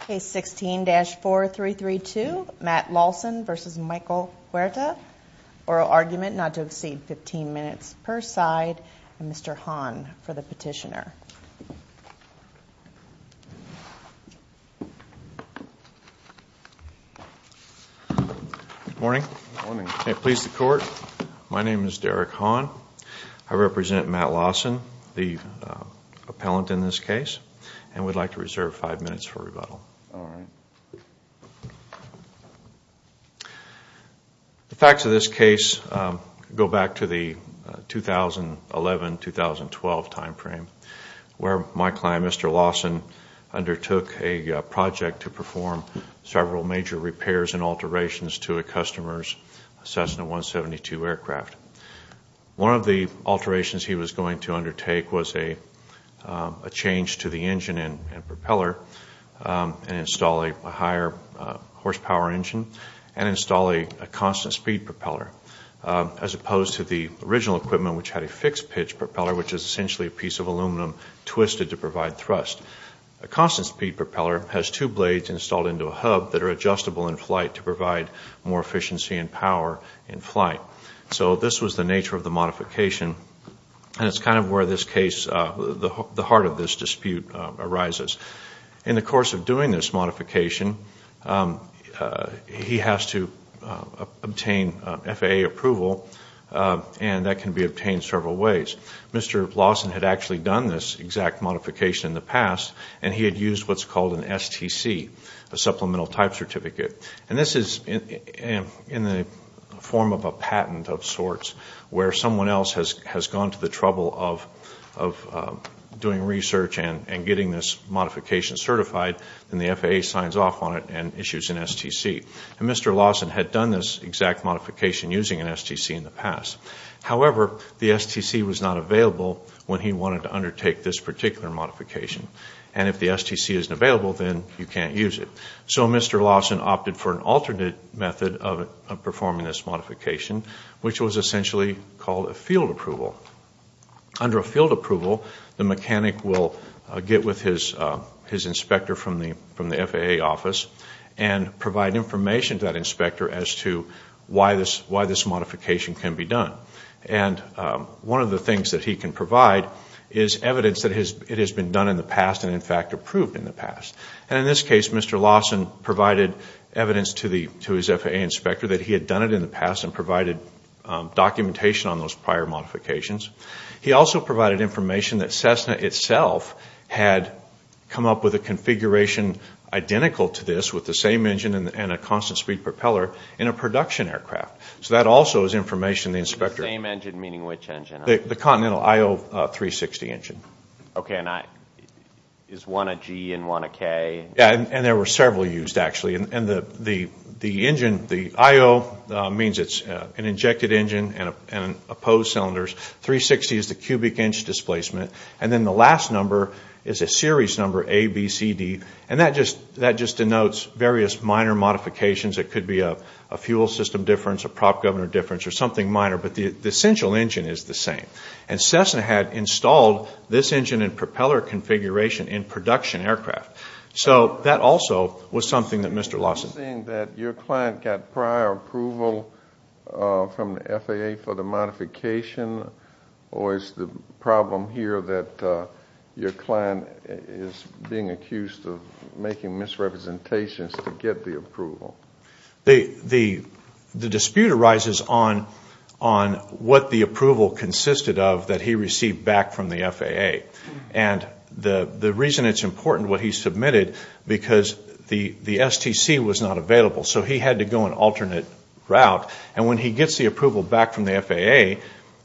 Case 16-4332, Matt Lawson v. Michael Huerta. Oral argument not to exceed 15 minutes per side. Mr. Hahn for the petitioner. Good morning. May it please the Court. My name is Derek Hahn. I represent Matt Lawson, the appellant in this case, and would like to reserve five minutes for rebuttal. The facts of this case go back to the 2011-2012 time frame, where my client, Mr. Lawson, undertook a project to perform several major repairs and alterations to a customer's Cessna 172 aircraft. One of the alterations he was going to undertake was a change to the engine and propeller, and install a higher horsepower engine, and install a constant speed propeller, as opposed to the original equipment, which had a fixed pitch propeller, which is essentially a piece of aluminum twisted to provide thrust. A constant speed propeller has two blades installed into a hub that are adjustable in flight to provide more efficiency and power in flight. This was the nature of the modification, and it's kind of where the heart of this dispute arises. In the course of doing this modification, he has to obtain FAA approval, and that can be obtained several ways. Mr. Lawson had actually done this exact modification in the past, and he had used what's called an STC, a supplemental type certificate. This is in the form of a patent of sorts, where someone else has gone to the trouble of doing research and getting this modification certified, and the FAA signs off on it and issues an STC. Mr. Lawson had done this exact modification using an STC in the past. However, the STC was not available when he wanted to undertake this particular modification, and if the STC isn't available, then you can't use it. So Mr. Lawson opted for an alternate method of performing this modification, which was essentially called a field approval. Under a field approval, the mechanic will get with his inspector from the FAA office and provide information to that inspector as to why this modification can be done. One of the things that he can provide is evidence that it has been done in the past and, in fact, approved in the past. In this case, Mr. Lawson provided evidence to his FAA inspector that he had done it in the past and provided documentation on those prior modifications. He also provided information that Cessna itself had come up with a configuration identical to this, with the same engine and a constant speed propeller, in a production aircraft. So that also is information the inspector... And there were several used, actually, and the engine, the IO means it's an injected engine and opposed cylinders. 360 is the cubic inch displacement, and then the last number is a series number, ABCD, and that just denotes various minor modifications. It could be a fuel system difference, a prop governor difference, or something minor, but the essential engine is the same. And Cessna had installed this engine and propeller configuration in production aircraft. So that also was something that Mr. Lawson... Are you saying that your client got prior approval from the FAA for the modification, or is the problem here that your client is being accused of making misrepresentations to get the approval? The dispute arises on what the approval consisted of that he received back from the FAA. And the reason it's important what he submitted, because the STC was not available, so he had to go an alternate route. And when he gets the approval back from the FAA,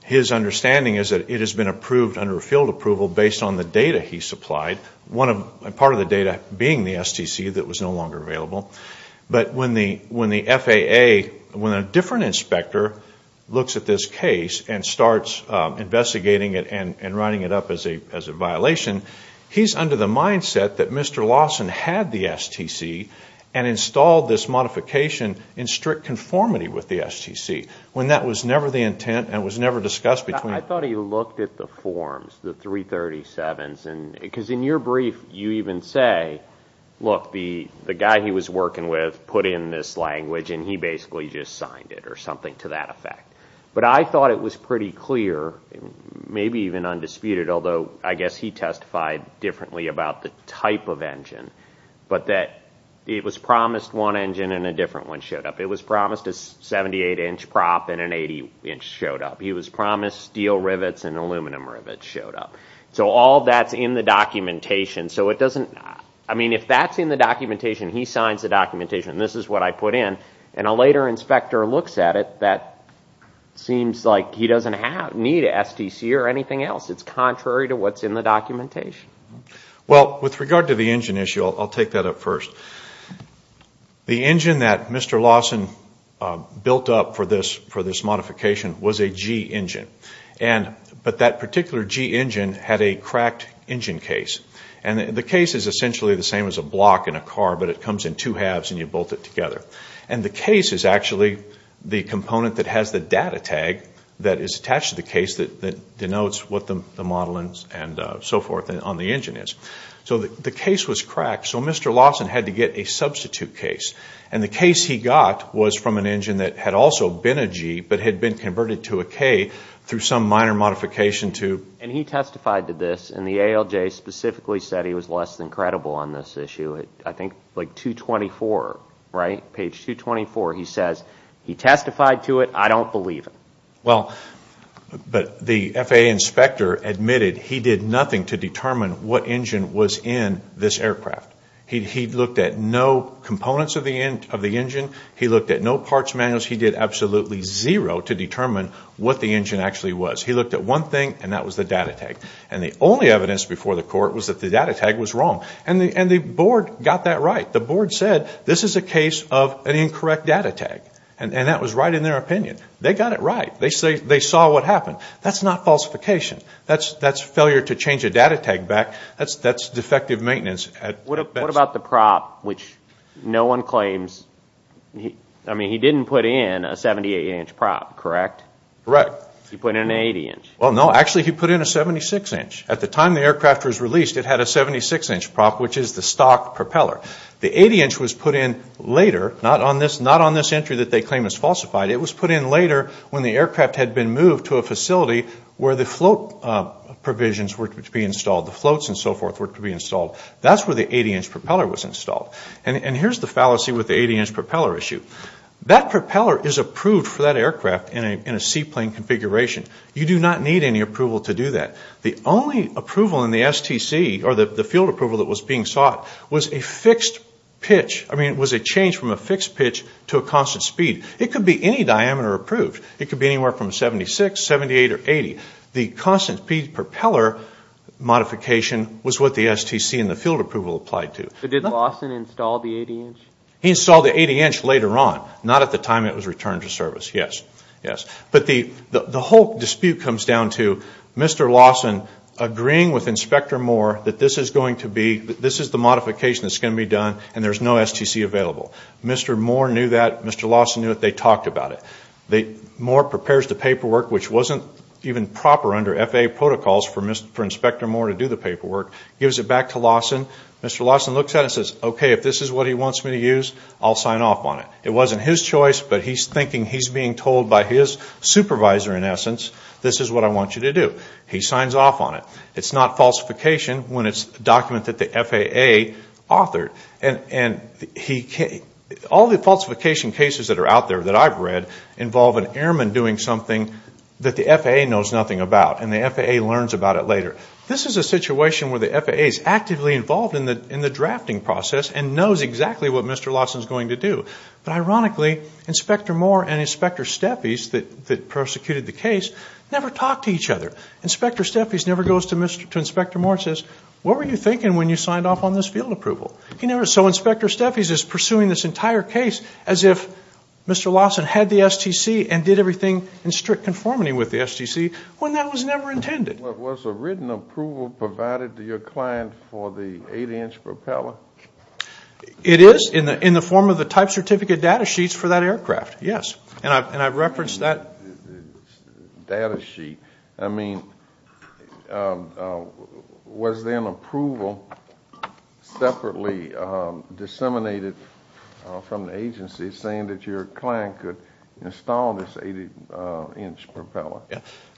his understanding is that it has been approved under a field approval based on the data he supplied. Part of the data being the STC that was no longer available, but when the FAA... When a different inspector looks at this case and starts investigating it and writing it up as a violation, he's under the mindset that Mr. Lawson had the STC and installed this modification in strict conformity with the STC, when that was never the intent and was never discussed between... In your brief, you even say, look, the guy he was working with put in this language and he basically just signed it, or something to that effect. But I thought it was pretty clear, maybe even undisputed, although I guess he testified differently about the type of engine, but that it was promised one engine and a different one showed up. It was promised a 78-inch prop and an 80-inch showed up. If that's in the documentation, he signs the documentation and this is what I put in, and a later inspector looks at it, that seems like he doesn't need a STC or anything else. It's contrary to what's in the documentation. Well, with regard to the engine issue, I'll take that up first. The engine that Mr. Lawson built up for this modification was a G engine. But that particular G engine had a cracked engine case. The case is essentially the same as a block in a car, but it comes in two halves and you bolt it together. The case is actually the component that has the data tag that is attached to the case that denotes what the model and so forth on the engine is. The case was cracked, so Mr. Lawson had to get a substitute case. The case he got was from an engine that had also been a G, but had been converted to a K through some minor modification. He testified to this and the ALJ specifically said he was less than credible on this issue. I think page 224 he says, he testified to it, I don't believe it. The FAA inspector admitted he did nothing to determine what engine was in this aircraft. He looked at no components of the engine. He looked at no parts manuals. He did absolutely zero to determine what the engine actually was. He looked at one thing and that was the data tag. The only evidence before the court was that the data tag was wrong. The board got that right. The board said this is a case of an incorrect data tag. That was right in their opinion. They got it right. They saw what happened. That's not falsification. That's failure to change a data tag back. That's defective maintenance. He didn't put in a 78 inch prop, correct? He put in an 80 inch. At the time the aircraft was released it had a 76 inch prop which is the stock propeller. The 80 inch was put in later, not on this entry that they claim is falsified. It was put in later when the aircraft had been moved to a facility where the float provisions were to be installed. That's where the 80 inch propeller was installed. That propeller is approved for that aircraft in a seaplane configuration. You do not need any approval to do that. The only approval in the STC or the field approval that was being sought was a change from a fixed pitch to a constant speed. It could be any diameter approved. It could be anywhere from 76, 78 or 80. The constant speed propeller modification was what the STC and the field approval applied to. He installed the 80 inch later on, not at the time it was returned to service. The whole dispute comes down to Mr. Lawson agreeing with Inspector Moore that this is the modification that's going to be done and there's no STC available. Mr. Moore knew that. Mr. Lawson knew it. They talked about it. Moore prepares the paperwork, which wasn't even proper under FAA protocols for Inspector Moore to do the paperwork. He gives it back to Lawson. Mr. Lawson looks at it and says, okay, if this is what he wants me to use, I'll sign off on it. It wasn't his choice, but he's thinking he's being told by his supervisor, in essence, this is what I want you to do. He signs off on it. It's not falsification when it's a document that the FAA authored. All the falsification cases that are out there that I've read involve an airman doing something that the FAA knows nothing about and the FAA learns about it later. This is a situation where the FAA is actively involved in the drafting process and knows exactly what Mr. Lawson is going to do. But ironically, Inspector Moore and Inspector Steffes that persecuted the case never talked to each other. Inspector Steffes never goes to Inspector Moore and says, what were you thinking when you signed off on this field approval? So Inspector Steffes is pursuing this entire case as if Mr. Lawson had the STC and did everything in strict conformity with the STC when that was never intended. Was a written approval provided to your client for the 8-inch propeller? It is in the form of the type certificate data sheets for that aircraft, yes. And I've referenced that. Data sheet. I mean, was then approval separately disseminated from the agency saying that your client could install this 8-inch propeller?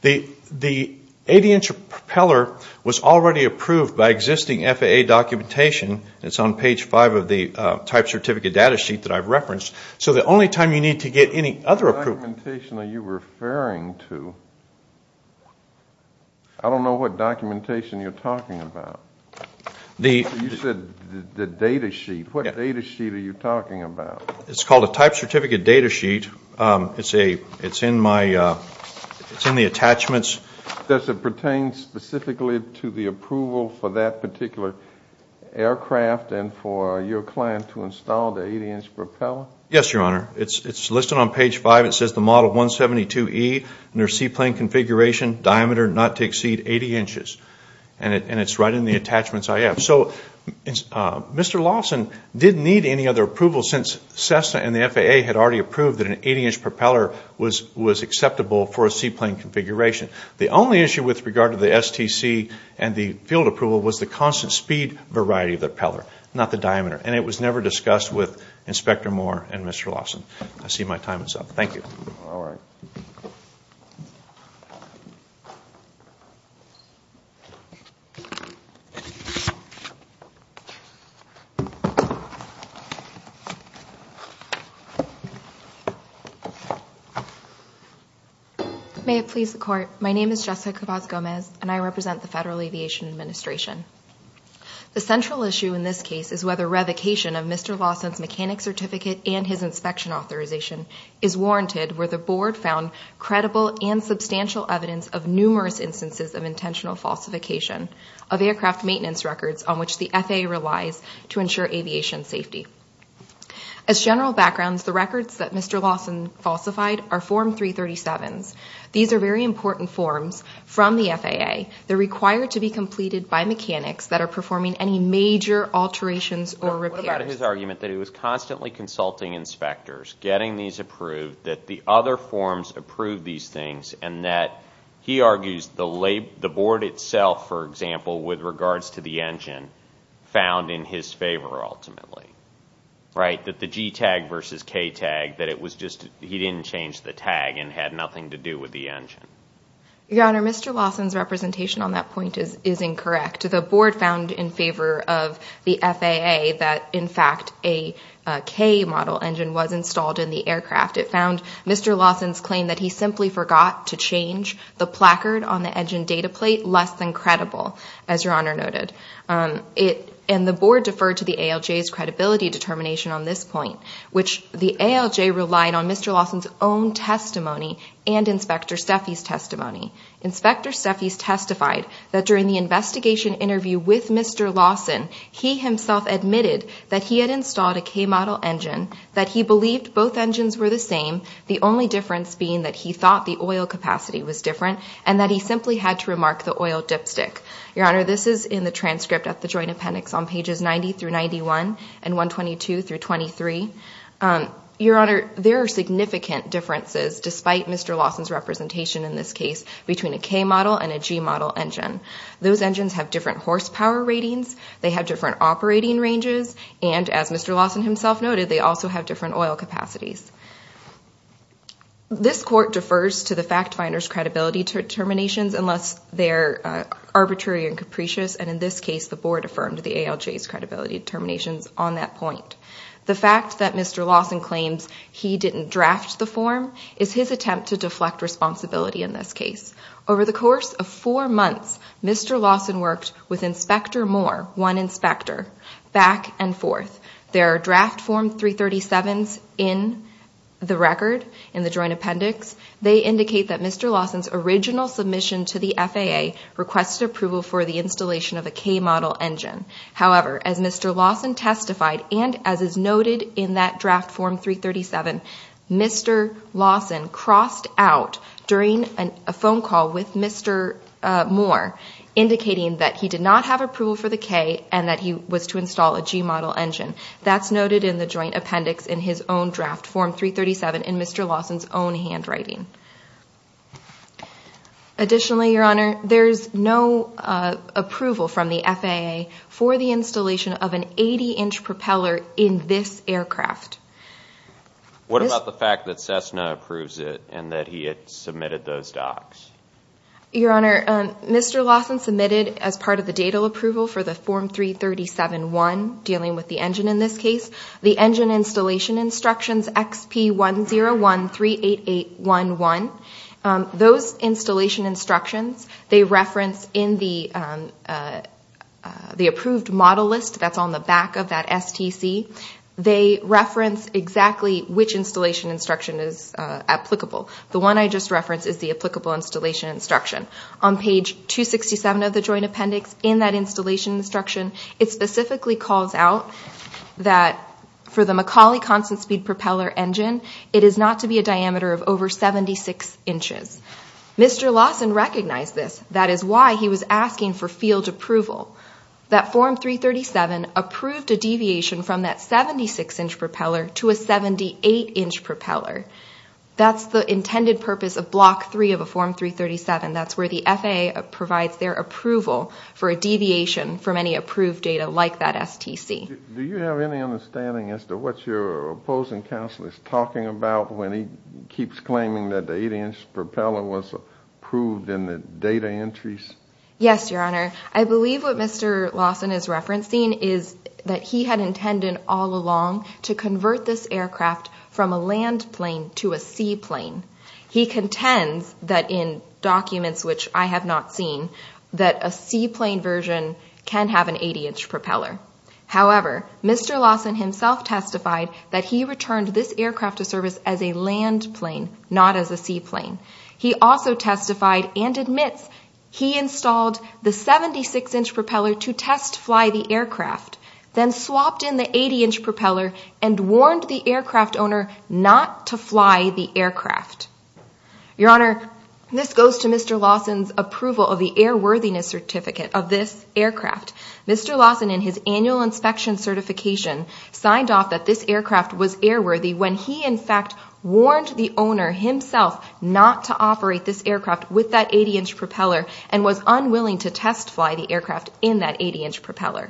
The 8-inch propeller was already approved by existing FAA documentation. It's on page 5 of the type certificate data sheet that I've referenced. So the only time you need to get any other approval... What documentation are you referring to? I don't know what documentation you're talking about. You said the data sheet. What data sheet are you talking about? It's called a type certificate data sheet. It's in the attachments. Does it pertain specifically to the approval for that particular aircraft and for your client to install the 8-inch propeller? Yes, Your Honor. It's listed on page 5. It says the model 172E, near sea plane configuration, diameter not to exceed 80 inches. And it's right in the attachments I have. So Mr. Lawson didn't need any other approval since Cessna and the FAA had already approved that an 8-inch propeller was acceptable for a sea plane configuration. The only issue with regard to the STC and the field approval was the constant speed variety of the propeller, not the diameter. And it was never discussed with Inspector Moore and Mr. Lawson. May it please the Court, my name is Jessica Cabas Gomez and I represent the Federal Aviation Administration. The central issue in this case is whether revocation of Mr. Lawson's mechanic certificate and his inspection authorization is warranted where the Board found credible and substantial evidence of numerous instances of intentional false information. As general backgrounds, the records that Mr. Lawson falsified are Form 337s. These are very important forms from the FAA. They're required to be completed by mechanics that are performing any major alterations or repairs. What about his argument that he was constantly consulting inspectors, getting these approved, that the other forms approved these things, and that he argues the Board itself, for example, with regards to the engine, found in his favor ultimately? That the G-tag versus K-tag, that he didn't change the tag and had nothing to do with the engine? Your Honor, Mr. Lawson's representation on that point is incorrect. The Board found in favor of the FAA that, in fact, a K-model engine was installed in the aircraft. It found Mr. Lawson's claim that he simply forgot to change the placard on the engine data plate less than credible, as Your Honor noted. And the Board deferred to the ALJ's credibility determination on this point, which the ALJ relied on Mr. Lawson's own testimony and Inspector Steffi's testimony. Inspector Steffi's testified that during the investigation interview with Mr. Lawson, he himself admitted that he had installed a K-model engine, that he believed both engines were the same. The only difference being that he thought the oil capacity was different, and that he simply had to remark the oil dipstick. Your Honor, this is in the transcript at the Joint Appendix on pages 90-91 and 122-23. Your Honor, there are significant differences, despite Mr. Lawson's representation in this case, between a K-model and a G-model engine. Those engines have different horsepower ratings, they have different operating ranges, and as Mr. Lawson himself noted, they also have different oil capacities. This Court defers to the fact finder's credibility determinations unless they're arbitrary and capricious, and in this case the Board affirmed the ALJ's credibility determinations on that point. The fact that Mr. Lawson claims he didn't draft the form is his attempt to deflect responsibility in this case. Over the course of four months, Mr. Lawson worked with Inspector Moore, one inspector, back and forth. There are draft Form 337s in the record, in the Joint Appendix. They indicate that Mr. Lawson's original submission to the FAA requested approval for the installation of a K-model engine. However, as Mr. Lawson testified, and as is noted in that draft Form 337, Mr. Lawson crossed out during a phone call with Mr. Moore, indicating that he did not have approval for the K and that he was to install a G-model engine. That's noted in the Joint Appendix in his own draft Form 337 in Mr. Lawson's own handwriting. Additionally, Your Honor, there's no approval from the FAA for the installation of an 80-inch propeller in this aircraft. What about the fact that Cessna approves it and that he had submitted those docs? Your Honor, Mr. Lawson submitted, as part of the datal approval for the Form 337-1, dealing with the engine in this case, the engine installation instructions XP10138811. Those installation instructions, they reference in the approved model list that's on the back of that STC. They reference exactly which installation instruction is applicable. The one I just referenced is the applicable installation instruction. On page 267 of the Joint Appendix, in that installation instruction, it specifically calls out that for the Macaulay constant-speed propeller engine, it is not to be a diameter of over 76 inches. Mr. Lawson recognized this. That is why he was asking for field approval. That Form 337 approved a deviation from that 76-inch propeller to a 78-inch propeller. That's the intended purpose of Block 3 of a Form 337. That's where the FAA provides their approval for a deviation from any approved data like that STC. Do you have any understanding as to what your opposing counsel is talking about when he keeps claiming that the 80-inch propeller was approved in the data entries? Yes, Your Honor. I believe what Mr. Lawson is referencing is that he had intended all along to convert this aircraft from a land plane to a sea plane. He contends that in documents which I have not seen, that a sea plane version can have an 80-inch propeller. However, Mr. Lawson himself testified that he returned this aircraft to service as a land plane, not as a sea plane. He also testified and admits he installed the 76-inch propeller to test fly the aircraft, then swapped in the 80-inch propeller and warned the aircraft owner not to fly the aircraft. Your Honor, this goes to Mr. Lawson's approval of the airworthiness certificate of this aircraft. Mr. Lawson, in his annual inspection certification, signed off that this aircraft was airworthy when he in fact warned the owner himself not to fly the aircraft. He warned the owner not to operate this aircraft with that 80-inch propeller and was unwilling to test fly the aircraft in that 80-inch propeller.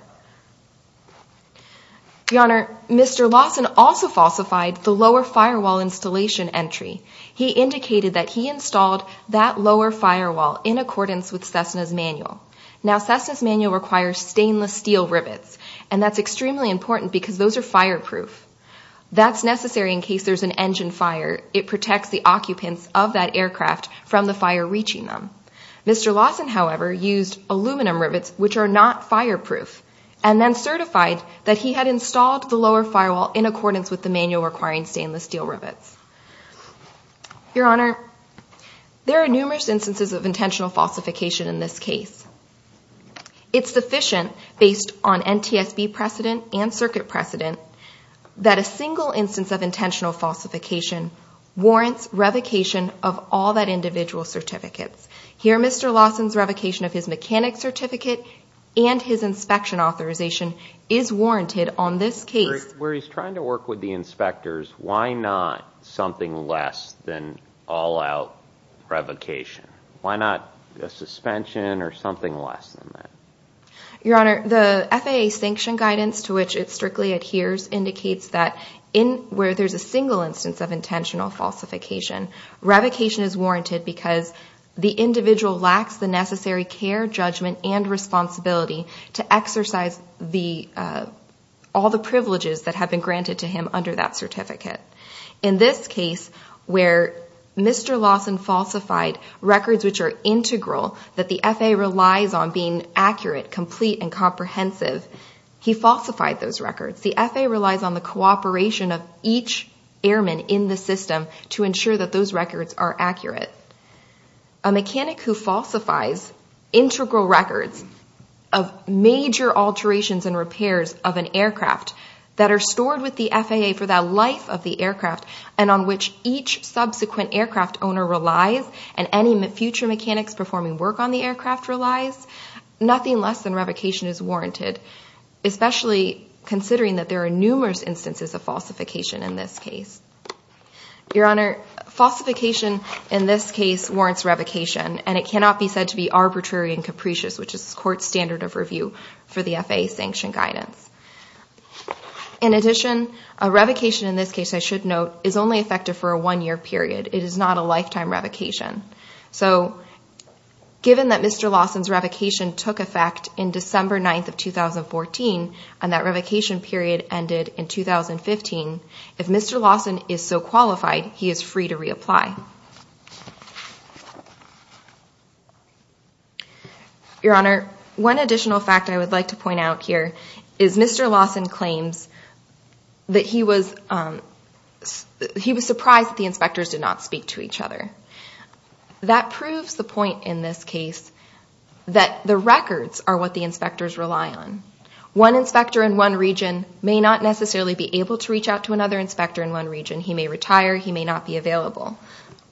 Your Honor, Mr. Lawson also falsified the lower firewall installation entry. He indicated that he installed that lower firewall in accordance with Cessna's manual. Now, Cessna's manual requires stainless steel rivets, and that's extremely important because those are fireproof. That's necessary in case there's an engine fire. It protects the occupants of that aircraft from the fire reaching them. Mr. Lawson, however, used aluminum rivets, which are not fireproof, and then certified that he had installed the lower firewall in accordance with the manual requiring stainless steel rivets. Your Honor, there are numerous instances of intentional falsification in this case. It's sufficient, based on NTSB precedent and circuit precedent, that a single instance of intentional falsification warrants revocation of all that individual certificate. Here, Mr. Lawson's revocation of his mechanic certificate and his inspection authorization is warranted on this case. Where he's trying to work with the inspectors, why not something less than all-out revocation? Why not a suspension or something less than that? Your Honor, the FAA sanction guidance to which it strictly adheres indicates that where there's a single instance of intentional falsification, revocation is warranted because the individual lacks the necessary care, judgment, and responsibility to exercise all the privileges that have been granted to him under that certificate. In this case, where Mr. Lawson falsified records which are integral, that the FAA relies on being accurate, complete, and comprehensive, he falsified those records. The FAA relies on the cooperation of each airman in the system to ensure that those records are accurate. A mechanic who falsifies integral records of major alterations and repairs of an aircraft that are stored with the FAA for the life of the aircraft, and on which each subsequent aircraft owner relies, and any future mechanics performing work on the aircraft relies, nothing less than revocation is warranted, especially considering that there are numerous instances of falsification in this case. Your Honor, falsification in this case warrants revocation, and it cannot be said to be arbitrary and capricious, which is the Court's standard of review for the FAA sanction guidance. In addition, a revocation in this case, I should note, is only effective for a one-year period. It is not a lifetime revocation. So, given that Mr. Lawson's revocation took effect in December 9th of 2014, and that revocation period ended in 2015, if Mr. Lawson is so qualified, he is free to reapply. Your Honor, one additional fact I would like to point out here is Mr. Lawson claims that he was surprised that the inspectors did not speak to each other. That proves the point in this case, that the records are what the inspectors rely on. One inspector in one region may not necessarily be able to reach out to another inspector in one region. He may retire. He may not be available.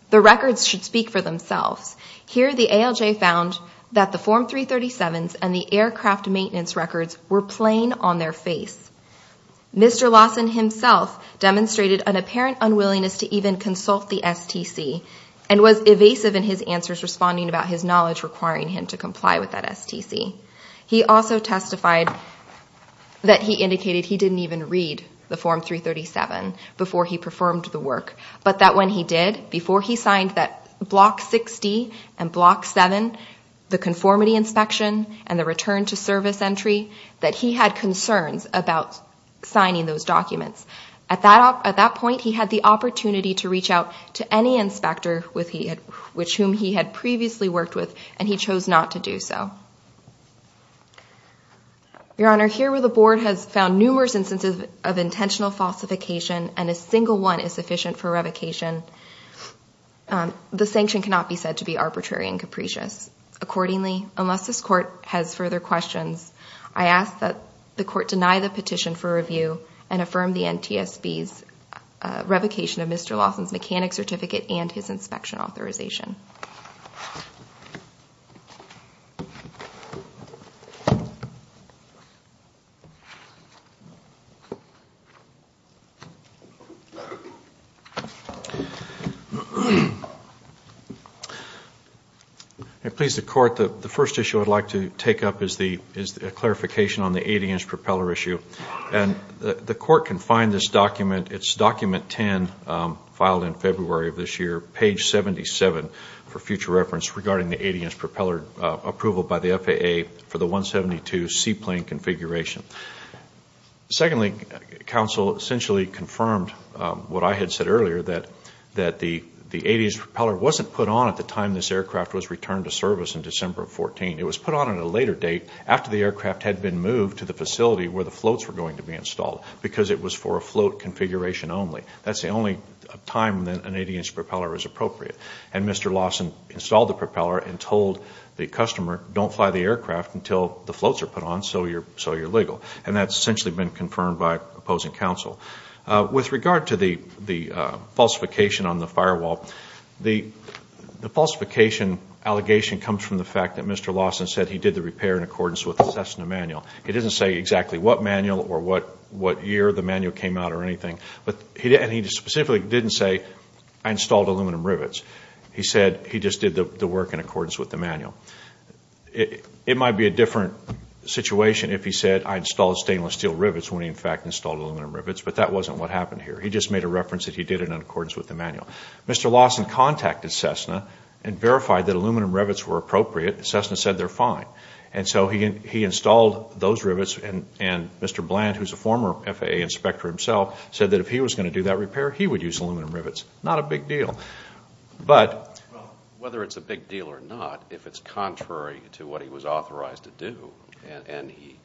The records should speak for themselves. Here, the ALJ found that the Form 337s and the aircraft maintenance records were plain on their face. Mr. Lawson himself demonstrated an apparent unwillingness to even consult the STC, and was evasive in his answers responding about his knowledge requiring him to comply with that STC. He also testified that he indicated he didn't even read the Form 337 before he performed the work, but that when he did, before he signed that Block 60 and Block 7, the conformity inspection and the return to service entry, that he had concerns about signing those documents. At that point, he had the opportunity to reach out to any inspector with whom he had previously worked with, and he chose not to do so. Your Honor, here where the Board has found numerous instances of intentional falsification, and a single one is sufficient for revocation, the sanction cannot be said to be arbitrary and capricious. Accordingly, unless this Court has further questions, I ask that the Court deny the petition for review, and affirm the NTSB's revocation of Mr. Lawson's mechanic certificate and his inspection authorization. Thank you, Your Honor. Please, the Court, the first issue I'd like to take up is a clarification on the 80-inch propeller issue. The Court can find this document, it's document 10, filed in February of this year, page 77, for future reference regarding the 80-inch propeller approval by the FAA for the 172 seaplane configuration. Secondly, counsel essentially confirmed what I had said earlier, that the 80-inch propeller wasn't put on at the time this aircraft was returned to service in December of 2014. It was put on at a later date, after the aircraft had been moved to the facility where the floats were going to be installed, because it was for a float configuration only. That's the only time that an 80-inch propeller is appropriate. And Mr. Lawson installed the propeller and told the customer, don't fly the aircraft until the floats are put on, so you're legal. And that's essentially been confirmed by opposing counsel. With regard to the falsification on the firewall, the falsification allegation comes from the fact that Mr. Lawson said he did the repair in accordance with the Cessna manual. He didn't say exactly what manual or what year the manual came out or anything, and he specifically didn't say, I installed aluminum rivets. He said he just did the work in accordance with the manual. It might be a different situation if he said, I installed stainless steel rivets, when he in fact installed aluminum rivets. But that wasn't what happened here. He just made a reference that he did it in accordance with the manual. Mr. Lawson contacted Cessna and verified that aluminum rivets were appropriate. Cessna said they're fine. And so he installed those rivets, and Mr. Bland, who's a former FAA inspector himself, said that if he was going to do that repair, he would use aluminum rivets. Not a big deal. But whether it's a big deal or not, if it's contrary to what he was authorized to do, and he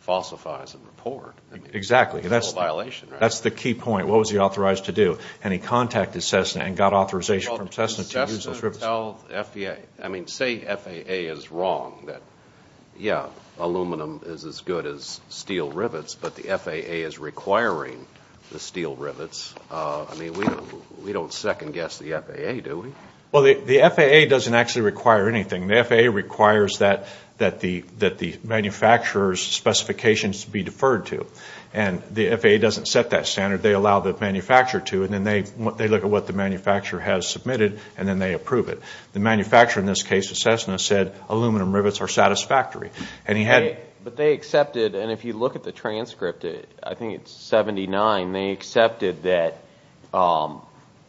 falsifies a report, that's a violation, right? Exactly. That's the key point. What was he authorized to do? And he contacted Cessna and got authorization from Cessna to use those rivets. I mean, say FAA is wrong that, yeah, aluminum is as good as steel rivets, but the FAA is requiring the steel rivets. I mean, we don't second guess the FAA, do we? Well, the FAA doesn't actually require anything. The FAA requires that the manufacturer's specifications be deferred to. And the FAA doesn't set that standard. They allow the manufacturer to. And then they look at what the manufacturer has submitted, and then they approve it. The manufacturer in this case of Cessna said aluminum rivets are satisfactory. But they accepted, and if you look at the transcript, I think it's 79, they accepted that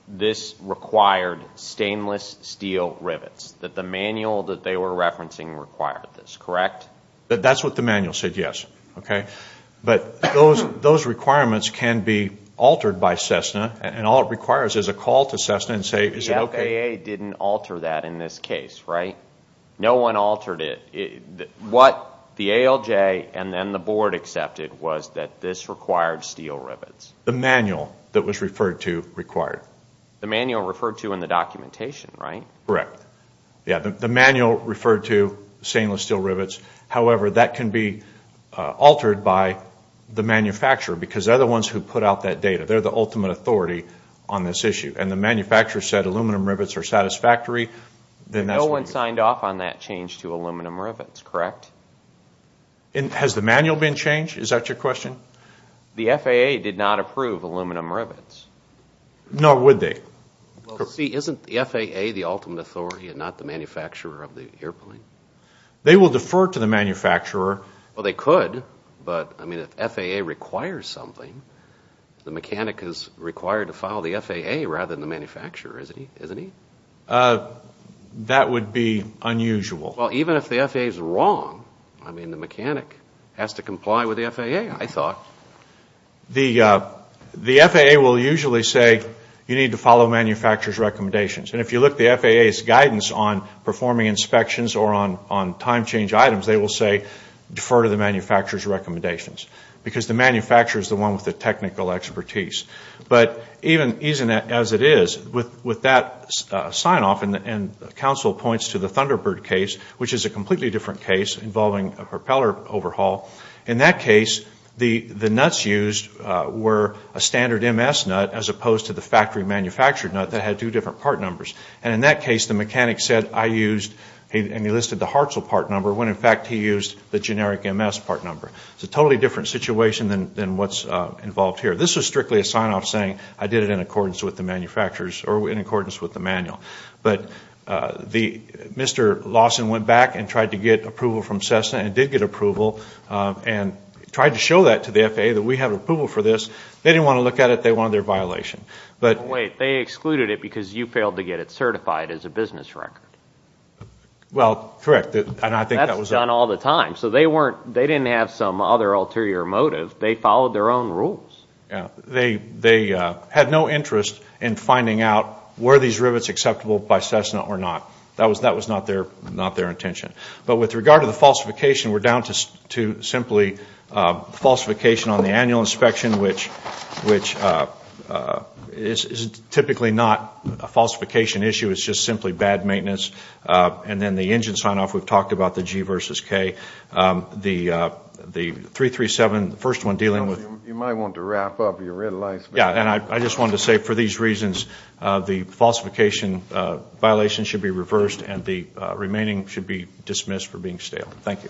this required stainless steel rivets. That the manual that they were referencing required this, correct? That's what the manual said, yes. But those requirements can be altered by Cessna, and all it requires is a call to Cessna and say, is it okay? The FAA didn't alter that in this case, right? No one altered it. What the ALJ and then the board accepted was that this required steel rivets. The manual that was referred to required. The manual referred to in the documentation, right? Correct. The manual referred to stainless steel rivets. However, that can be altered by the manufacturer. Because they're the ones who put out that data. They're the ultimate authority on this issue. And the manufacturer said aluminum rivets are satisfactory. No one signed off on that change to aluminum rivets, correct? Has the manual been changed? Is that your question? The FAA did not approve aluminum rivets. Nor would they. Isn't the FAA the ultimate authority and not the manufacturer of the airplane? They will defer to the manufacturer. Well, they could, but if FAA requires something, the mechanic is required to follow the FAA rather than the manufacturer, isn't he? That would be unusual. Well, even if the FAA is wrong, the mechanic has to comply with the FAA, I thought. The FAA will usually say you need to follow manufacturer's recommendations. And if you look at the FAA's guidance on performing inspections or on time change items, they will say defer to the manufacturer's recommendations. Because the manufacturer is the one with the technical expertise. But even as it is, with that sign off, and counsel points to the Thunderbird case, which is a completely different case involving a propeller overhaul. In that case, the nuts used were a standard MS nut as opposed to the factory manufactured nut that had two different part numbers. And in that case, the mechanic said I used, and he listed the Hartzell part number, when in fact he used the generic MS part number. It's a totally different situation than what's involved here. This is strictly a sign off saying I did it in accordance with the manufacturers or in accordance with the manual. But Mr. Lawson went back and tried to get approval from Cessna, and did get approval, and tried to show that to the FAA that we have approval for this. They didn't want to look at it, they wanted their violation. They excluded it because you failed to get it certified as a business record. That's done all the time. They didn't have some other ulterior motive, they followed their own rules. They had no interest in finding out were these rivets acceptable by Cessna or not. That was not their intention. But with regard to the falsification, we're down to simply falsification on the annual inspection, which is typically not a falsification issue, it's just simply bad maintenance. And then the engine sign off, we've talked about the G versus K. The 337, the first one dealing with... I just wanted to say for these reasons, the falsification violation should be reversed, and the remaining should be dismissed for being stale. Thank you.